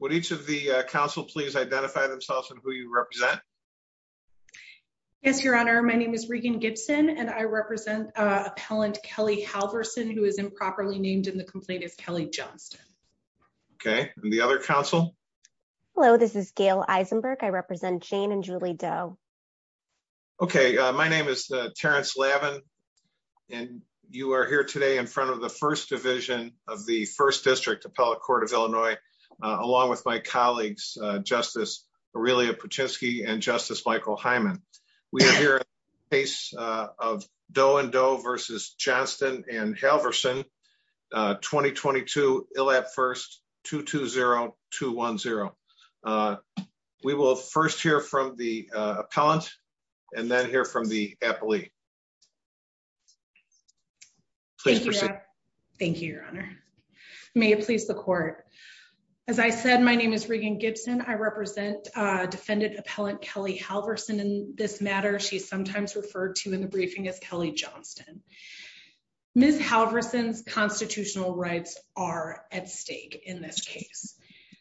Would each of the council please identify themselves and who you represent? Yes, your honor, my name is Regan Gibson and I represent appellant Kelly Halverson who is improperly named in the complaint as Kelly Johnston. Okay, and the other council? Hello, this is Gail Eisenberg. I represent Jane and Julie Doe. Okay, my name is Terrence Lavin and you are here today in front of the first division of the first district appellate court of Illinois along with my colleagues, Justice Aurelia Puchinski and Justice Michael Hyman. We are here in the case of Doe and Doe v. Johnston and Halverson, 2022 ILAP 1st 220210. We will first hear from the appellant and then hear from the appellee. Please proceed. Thank you, your honor. May it please the court. As I said, my name is Regan Gibson. I represent defendant appellant Kelly Halverson in this matter. She's sometimes referred to in the briefing as Kelly Johnston. Ms. Halverson's constitutional rights are at stake in this case.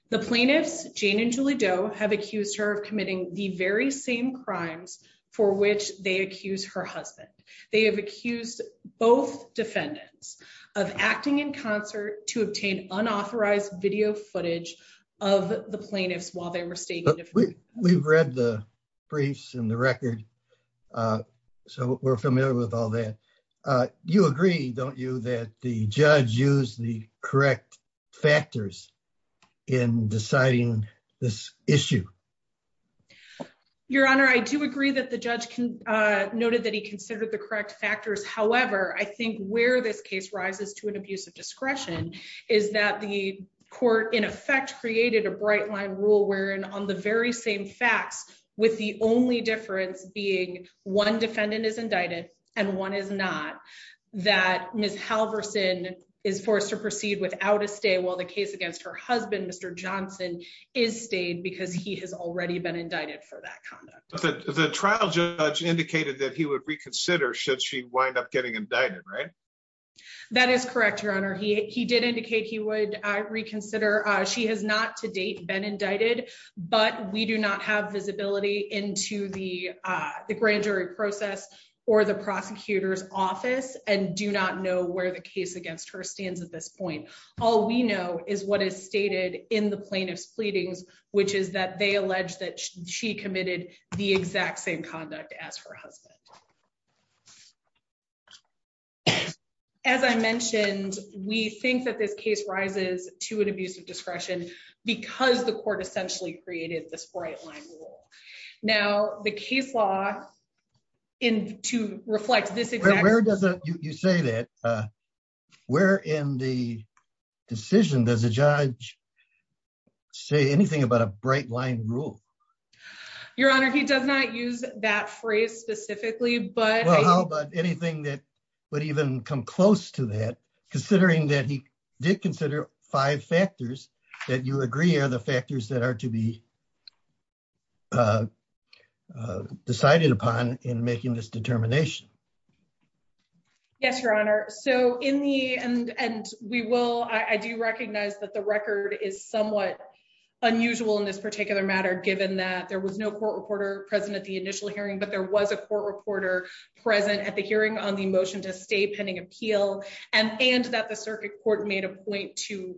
The plaintiffs, Jane and Julie Doe, have accused her of committing the very same crimes for which they accuse her husband. They have accused both defendants of acting in concert to obtain unauthorized video footage of the plaintiffs while they were staying. We've read the briefs and the record, so we're familiar with all that. You agree, don't you, that the judge used the correct factors in deciding this issue? Your honor, I do agree that the judge noted that he considered the correct factors. However, I think where this case rises to an abuse of discretion is that the court in effect created a bright line rule wherein on the very same facts with the only difference being one defendant is indicted and one is not that Ms. Halverson is forced to proceed without a stay while the case against her husband, Mr. Johnston, is stayed because he has already been indicted for that conduct. The trial judge indicated that he would reconsider should she wind up getting indicted, right? That is correct, your honor. He did indicate he would reconsider. She has not to date been indicted, but we do not have visibility into the grand jury process or the prosecutor's stated in the plaintiff's pleadings, which is that they allege that she committed the exact same conduct as her husband. As I mentioned, we think that this case rises to an abuse of discretion because the court essentially created this bright line rule. Now, the case law to judge say anything about a bright line rule. Your honor, he does not use that phrase specifically, but anything that would even come close to that, considering that he did consider five factors that you agree are the factors that are to be decided upon in making this determination. Yes, your honor. So in the end, and we will, I do recognize that the record is somewhat unusual in this particular matter, given that there was no court reporter present at the initial hearing, but there was a court reporter present at the hearing on the motion to stay pending appeal and, and that the circuit court made a point to,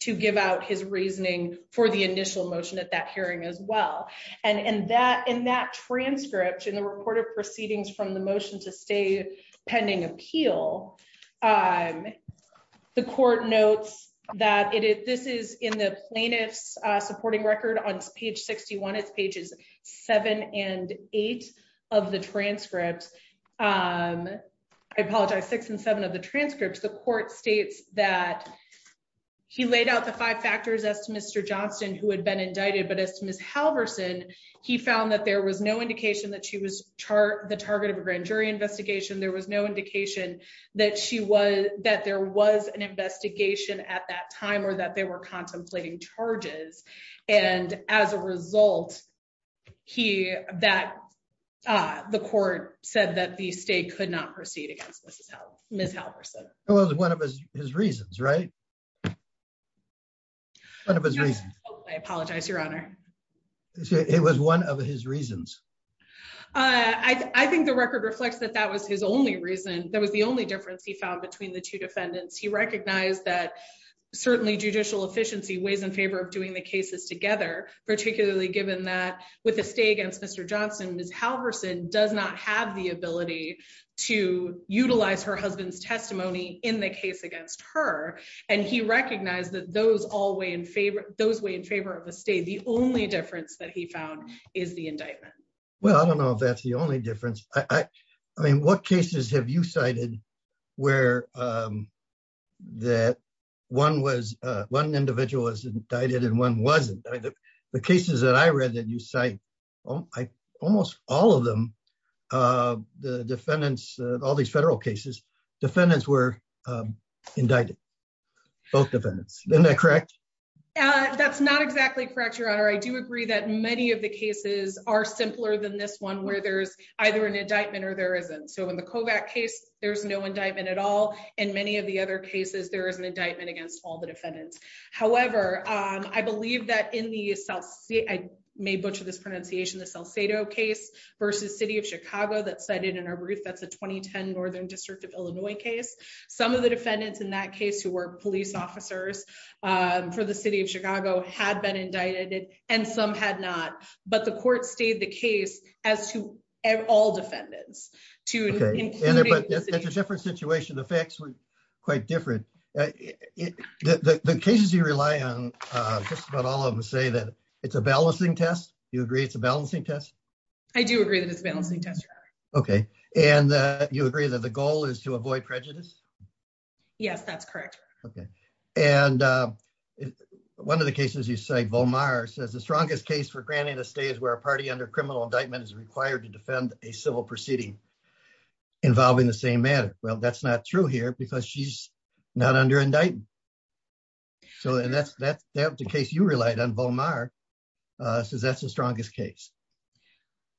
to give out his reasoning for the initial motion at that hearing as well. And, and that, in that transcript and the court of proceedings from the motion to stay pending appeal, the court notes that it, this is in the plaintiff's supporting record on page 61, it's pages seven and eight of the transcript. I apologize, six and seven of the transcripts. The court states that he laid out the five factors as to Mr. Johnston, who had been indicted, but as to Ms. Halverson, he found that there was no chart, the target of a grand jury investigation. There was no indication that she was, that there was an investigation at that time or that they were contemplating charges. And as a result, he, that, uh, the court said that the state could not proceed against Mrs. Hal, Ms. Halverson. It was one of his reasons, right? One of his reasons. I apologize, your honor. It was one of his reasons. Uh, I, I think the record reflects that that was his only reason. That was the only difference he found between the two defendants. He recognized that certainly judicial efficiency weighs in favor of doing the cases together, particularly given that with a stay against Mr. Johnston, Ms. Halverson does not have the ability to utilize her husband's testimony in the case against her. And he recognized that those all weigh in favor, those weigh in favor of the state. The only difference that he found is the indictment. Well, I don't know if that's the only difference. I mean, what cases have you cited where, um, that one was, uh, one individual is indicted and one wasn't the cases that I read that you cite. Oh, I almost all of them, uh, the defendants, all these federal cases, defendants were, um, indicted both defendants. Isn't that correct? Uh, that's not exactly correct. Your honor. I do agree that many of the cases are simpler than this one where there's either an indictment or there isn't. So in the Kovac case, there's no indictment at all. And many of the other cases, there is an indictment against all the defendants. However, um, I believe that in the South, I may butcher this pronunciation, the Salcedo case versus city of Chicago that cited in our brief, that's a 2010 Northern district of Illinois case. Some of the defendants in that case who were police officers, um, for the city of Chicago had been indicted and some had not, but the court stayed the case as to all defendants. It's a different situation. The facts were quite different. The cases you rely on, uh, just about all of them say that it's a balancing test. You agree it's a balancing test. I do agree that it's a balancing test. Okay. And, uh, you agree that the goal is to avoid prejudice. Yes, that's correct. Okay. And, uh, one of the cases you say Volmar says the strongest case for granting a stay is where a party under criminal indictment is required to defend a civil proceeding involving the same matter. Well, that's not true here because she's not under indictment. So, and that's, that's the case you relied on Volmar, uh, says that's the strongest case.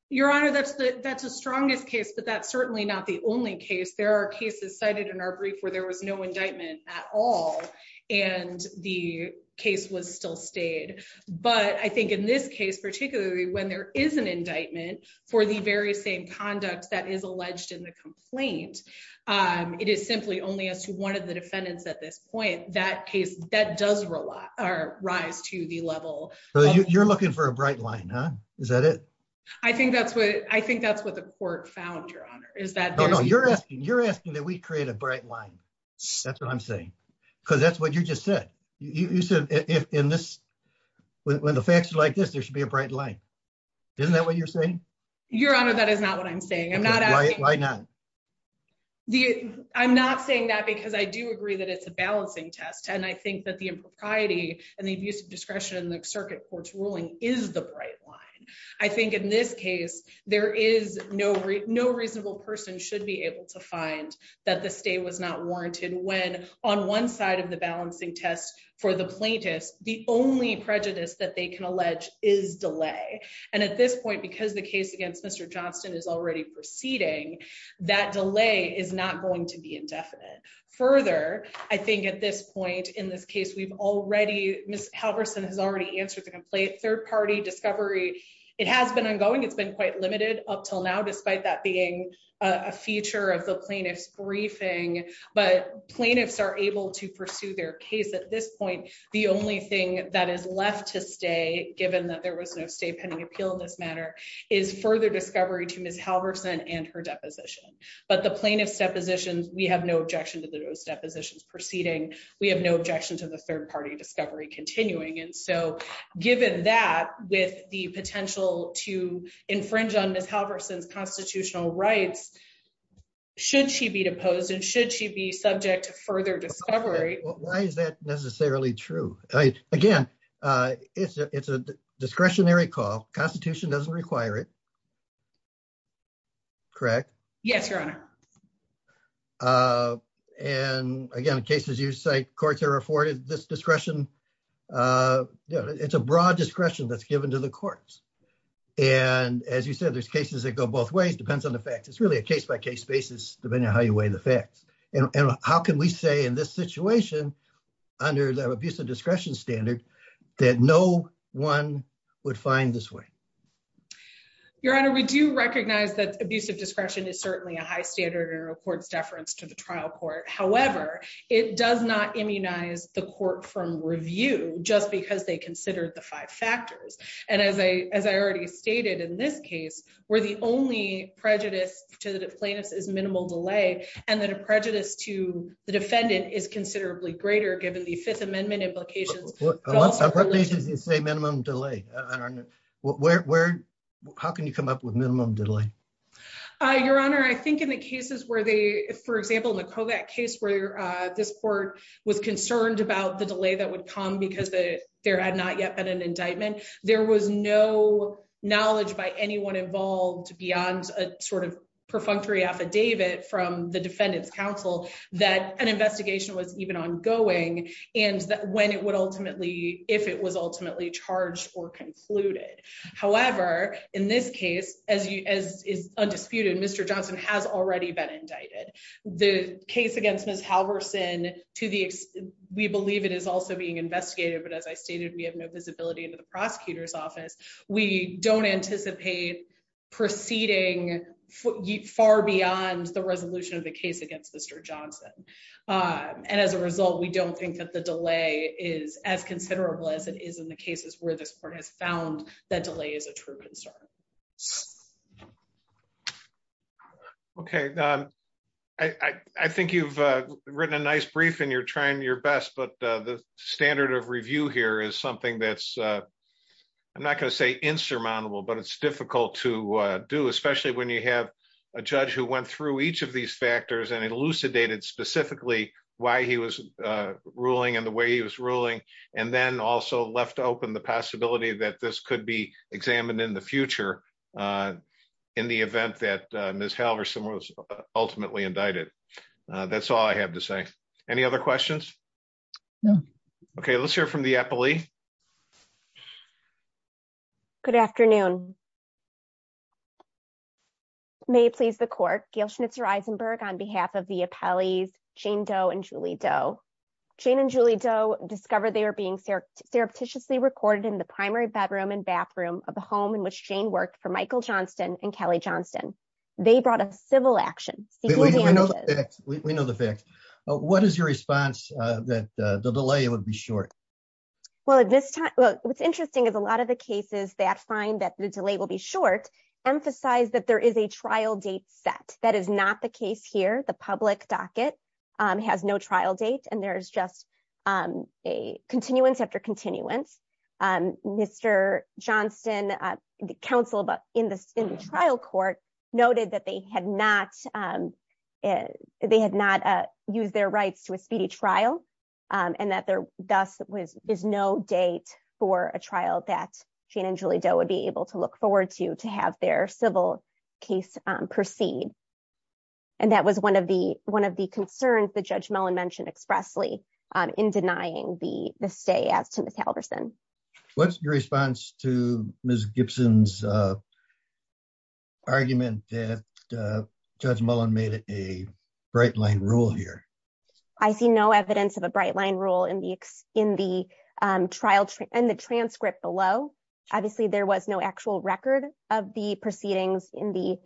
Your Honor. That's the, that's the strongest case, but that's certainly not the only case. There are cases cited in our brief where there was no indictment at all. And the case was still stayed. But I think in this case, particularly when there is an indictment for the very same conduct that is alleged in the complaint, um, it is simply only as to one of the defendants at this point, that case that does rely or rise to the level. So you're looking for a bright line, huh? Is that it? I think that's what, I think that's what the court found. Your Honor is that you're asking, you're asking that we create a bright line. That's what I'm saying. Cause that's what you just said. You said if in this, when the facts are like this, there should be a bright light. Isn't that what you're saying? Your Honor, that is not what I'm saying. I'm not asking. Why not? The, I'm not saying that because I do agree that it's a balancing test. And I think that the impropriety and the abuse of discretion in the circuit court's ruling is the bright line. I think in this case, there is no, no reasonable person should be able to find that the stay was not warranted when on one side of the balancing test for the plaintiffs, the only prejudice that they can allege is delay. And at this point, because the case against Mr. Johnston is already proceeding, that delay is not going to be indefinite. Further, I think at this point in this case, we've already, Ms. Halverson has already answered the complaint, third party discovery. It has been ongoing. It's been quite limited up till now, despite that being a feature of the plaintiff's briefing, but plaintiffs are able to pursue their case at this point. The only thing that is left to stay, given that there was no state pending appeal in this matter is further discovery to Ms. Halverson and her deposition. But the plaintiff's depositions, we have no objection to those depositions proceeding. We have no objection to the third party discovery continuing. And so given that with the potential to infringe on Ms. Halverson's constitutional rights, should she be deposed and should she be subject to further discovery? Why is that necessarily true? Again, it's a discretionary call. Constitution doesn't require it. Correct? Yes, Your Honor. And again, in cases you cite, courts are afforded this discretion. It's a broad discretion that's given to the courts. And as you said, there's cases that go both ways, depends on the facts. It's really a case by case basis, depending on how you weigh the facts. And how can we say in this situation, under the abuse of discretion standard, that no one would find this way? Your Honor, we do recognize that abuse of discretion is certainly a high standard in a court's deference to the trial court. However, it does not immunize the court from review just because they considered the five factors. And as I already stated in this case, where the only prejudice to the plaintiff's is minimal delay, and then a prejudice to the defendant is considerably greater given the Fifth Amendment implications. A lot of separations say minimum delay. How can you come up with minimum delay? Your Honor, I think in the cases where they, for example, in the Kovac case where this court was concerned about the delay that would come because there had not yet been an indictment, there was no knowledge by anyone involved beyond a sort of perfunctory affidavit from the defendant's counsel that an investigation was even ongoing, and that when it would ultimately, if it was ultimately charged or concluded. However, in this case, as is undisputed, Mr. Johnson has already been indicted. The case against Ms. Halvorson, we believe it is also being investigated. But as I stated, we have no visibility into the prosecutor's office. We don't anticipate proceeding far beyond the resolution of the case against Mr. Johnson. And as a result, we don't think that the delay is as considerable as it is in the cases where this court has found that delay is a true concern. Okay. I think you've written a nice brief and you're trying your best, but the standard of insurmountable, but it's difficult to do, especially when you have a judge who went through each of these factors and elucidated specifically why he was ruling and the way he was ruling, and then also left open the possibility that this could be examined in the future, in the event that Ms. Halvorson was ultimately indicted. That's all I have to say. Any other questions? No. Okay. Let's hear from the appellee. Good afternoon. May it please the court, Gail Schnitzer-Eisenberg on behalf of the appellees Jane Doe and Julie Doe. Jane and Julie Doe discovered they were being surreptitiously recorded in the primary bedroom and bathroom of the home in which Jane worked for Michael Johnston and Kelly Johnston. They brought a civil action. We know the facts. We know the facts. What is your response that the delay would be short? Well, at this time, what's interesting is a lot of the cases that find that the delay will be short emphasize that there is a trial date set. That is not the case here. The public docket has no trial date and there's just a continuance after continuance. Mr. Johnston, the counsel in the trial court noted that they had not used their rights to a speedy trial and that there thus is no date for a trial that Jane and Julie Doe would be able to look forward to, to have their civil case proceed. That was one of the concerns that Judge Mellon mentioned expressly in denying the stay as to Ms. Halvorson. What's your response to Ms. Gibson's argument that Judge Mellon made it a bright line rule here? I see no evidence of a bright line rule in the trial and the transcript below. Obviously, there was no actual record of the proceedings in the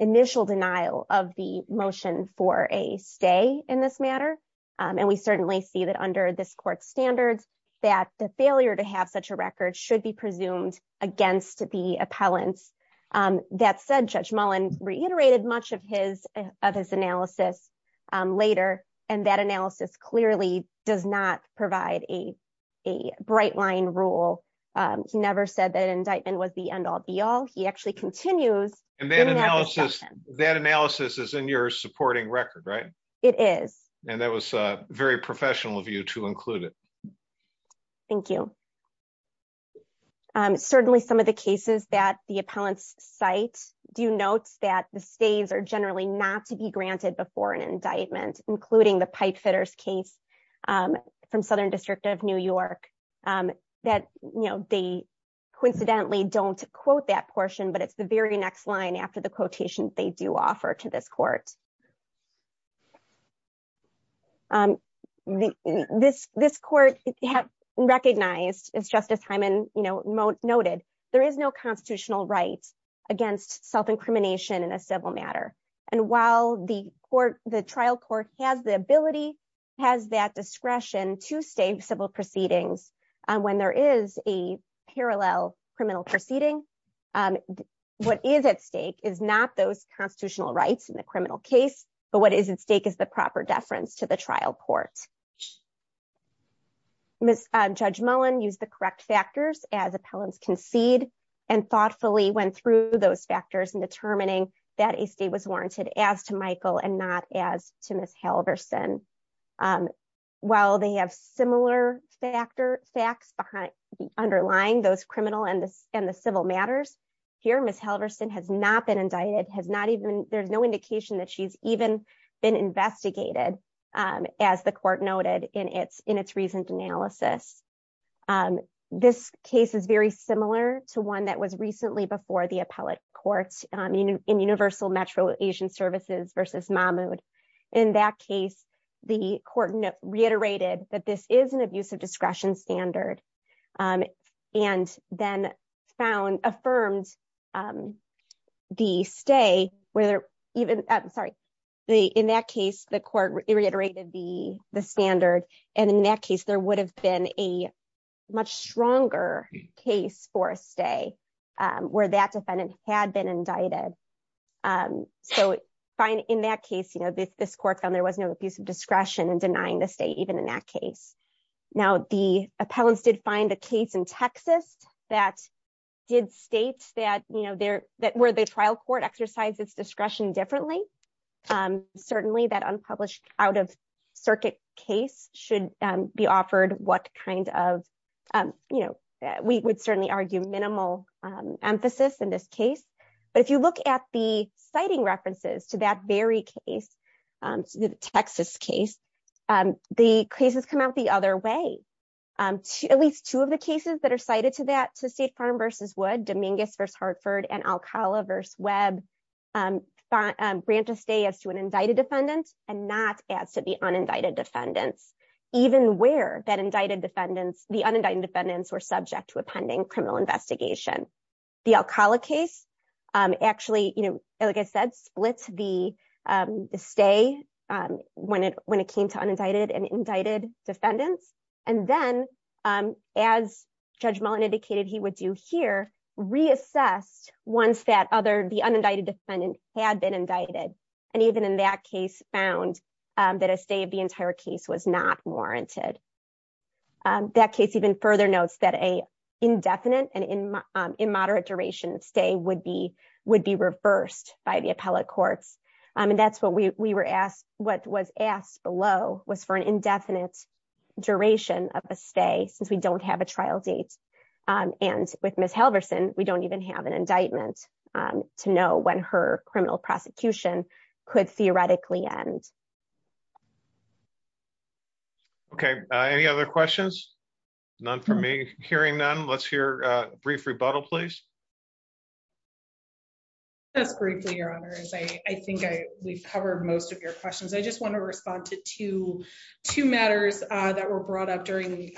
initial denial of the motion for a stay in this matter. And we certainly see that under this court standards, that the failure to have a record should be presumed against the appellants. That said, Judge Mellon reiterated much of his analysis later and that analysis clearly does not provide a bright line rule. He never said that indictment was the end all be all. He actually continues. That analysis is in your supporting record, right? It is. And that was very professional of you to include it. Thank you. Certainly, some of the cases that the appellants cite do notes that the stays are generally not to be granted before an indictment, including the Pipefitters case from Southern District of New York. They coincidentally don't quote that portion, but it's the very next line after the quotation they do offer to this court. This court recognized, as Justice Hyman noted, there is no constitutional right against self-incrimination in a civil matter. And while the trial court has the ability, has that discretion to stay in civil proceedings when there is a parallel criminal proceeding, what is at stake is not those constitutional rights in the criminal case, but what is at stake is the proper deference to the trial court. Judge Mellon used the correct factors as appellants concede and thoughtfully went through those factors in determining that a stay was warranted as to Michael and not to Ms. Halverson. While they have similar facts underlying those criminal and the civil matters, here Ms. Halverson has not been indicted. There's no indication that she's even been investigated, as the court noted in its recent analysis. This case is very similar to one that was recently before the appellate court in Universal Metro Asian Services versus Mahmood. In that case, the court reiterated that this is an abuse of discretion standard and then found, affirmed the stay where there even, sorry, in that case, the court reiterated the standard. And in that case, there would have been a much stronger case for a stay where that defendant had been indicted. So, in that case, this court found there was no abuse of discretion in denying the stay even in that case. Now, the appellants did find a case in Texas that did state that where the trial court exercises discretion differently. Certainly, that unpublished out-of-circuit case should be offered what kind of, you know, we would certainly argue minimal emphasis in this case. But if you look at the citing references to that very case, the Texas case, the cases come out the other way. At least two of the cases that are cited to that to State Farm versus Wood, Dominguez versus an indicted defendant and not as to the unindicted defendants, even where that indicted defendants, the unindicted defendants were subject to a pending criminal investigation. The Alcala case, actually, you know, like I said, splits the stay when it came to unindicted and indicted defendants. And then, as Judge Mullin indicated he would do here, reassessed once that the unindicted defendant had been indicted. And even in that case found that a stay of the entire case was not warranted. That case even further notes that a indefinite and in moderate duration stay would be reversed by the appellate courts. And that's what we were asked, what was asked below was for an indefinite duration of a stay since we don't have a trial date. And with Ms. Halverson, we don't even have an indictment to know when her criminal prosecution could theoretically end. Okay. Any other questions? None from me. Hearing none, let's hear a brief rebuttal, please. Just briefly, your honors, I think we've covered most of your questions. I just want to respond to two matters that were brought up during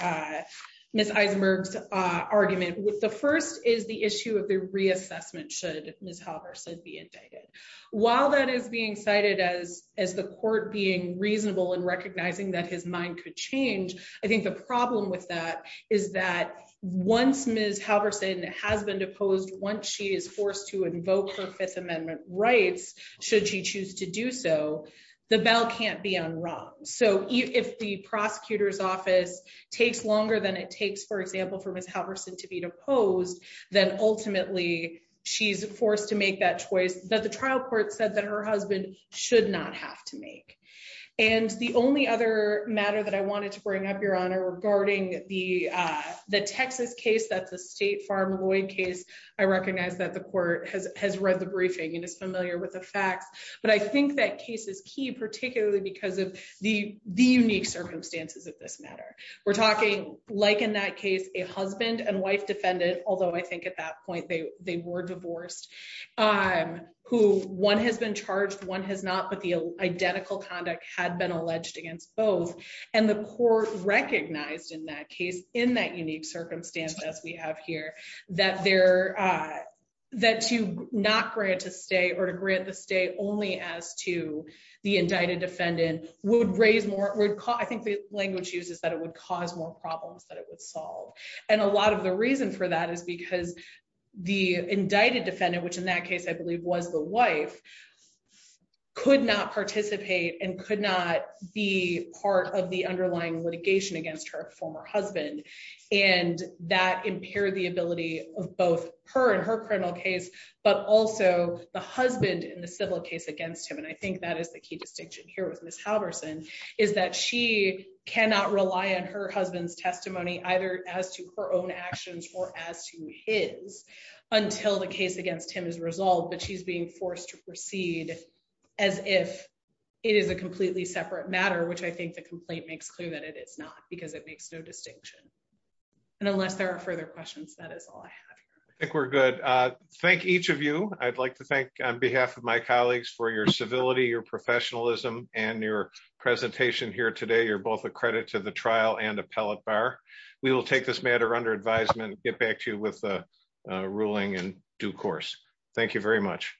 Ms. Eisenberg's argument. The first is the issue of the reassessment should Ms. Halverson be indicted. While that is being cited as the court being reasonable in recognizing that his mind could change, I think the problem with that is that once Ms. Halverson has been deposed, once she is forced to invoke her Fifth Amendment rights, should she choose to do so, the bell can't be unrung. So if the prosecutor's office takes longer than it takes, for example, for Ms. Halverson to be deposed, then ultimately, she's forced to make that choice that the trial court said that her husband should not have to make. And the only other matter that I wanted to bring up, your honor, regarding the Texas case, that's a State Farm Lloyd case. I recognize that the court has read the briefing and is familiar with the facts. But I think that case is key, particularly because of the unique circumstances of this matter. We're talking, like in that case, a husband and wife defendant, although I think at that point they were divorced, who one has been charged, one has not, but the identical conduct had been alleged against both. And the court recognized in that case, in that unique circumstance as we have here, that to not grant a stay or to grant the stay only as to the indicted defendant would raise more, I think the language used is that it would cause more problems than it would solve. And a lot of the reason for that is because the indicted defendant, which in that case, I believe was the wife, could not participate and could not be part of the underlying litigation against her former husband. And that impaired the ability of both her and her criminal case, but also the husband in the civil case against him. And I think that is the key distinction here with Ms. Halverson, is that she cannot rely on her husband's testimony either as to her own actions or as to his until the case against him is resolved, but she's being forced to proceed as if it is a completely separate matter, which I think the complaint makes clear that it is not. Because it makes no distinction. And unless there are further questions, that is all I have. I think we're good. Thank each of you. I'd like to thank on behalf of my colleagues for your civility, your professionalism, and your presentation here today. You're both a credit to the trial and appellate bar. We will take this matter under advisement, get back to you with the ruling in due course. Thank you very much.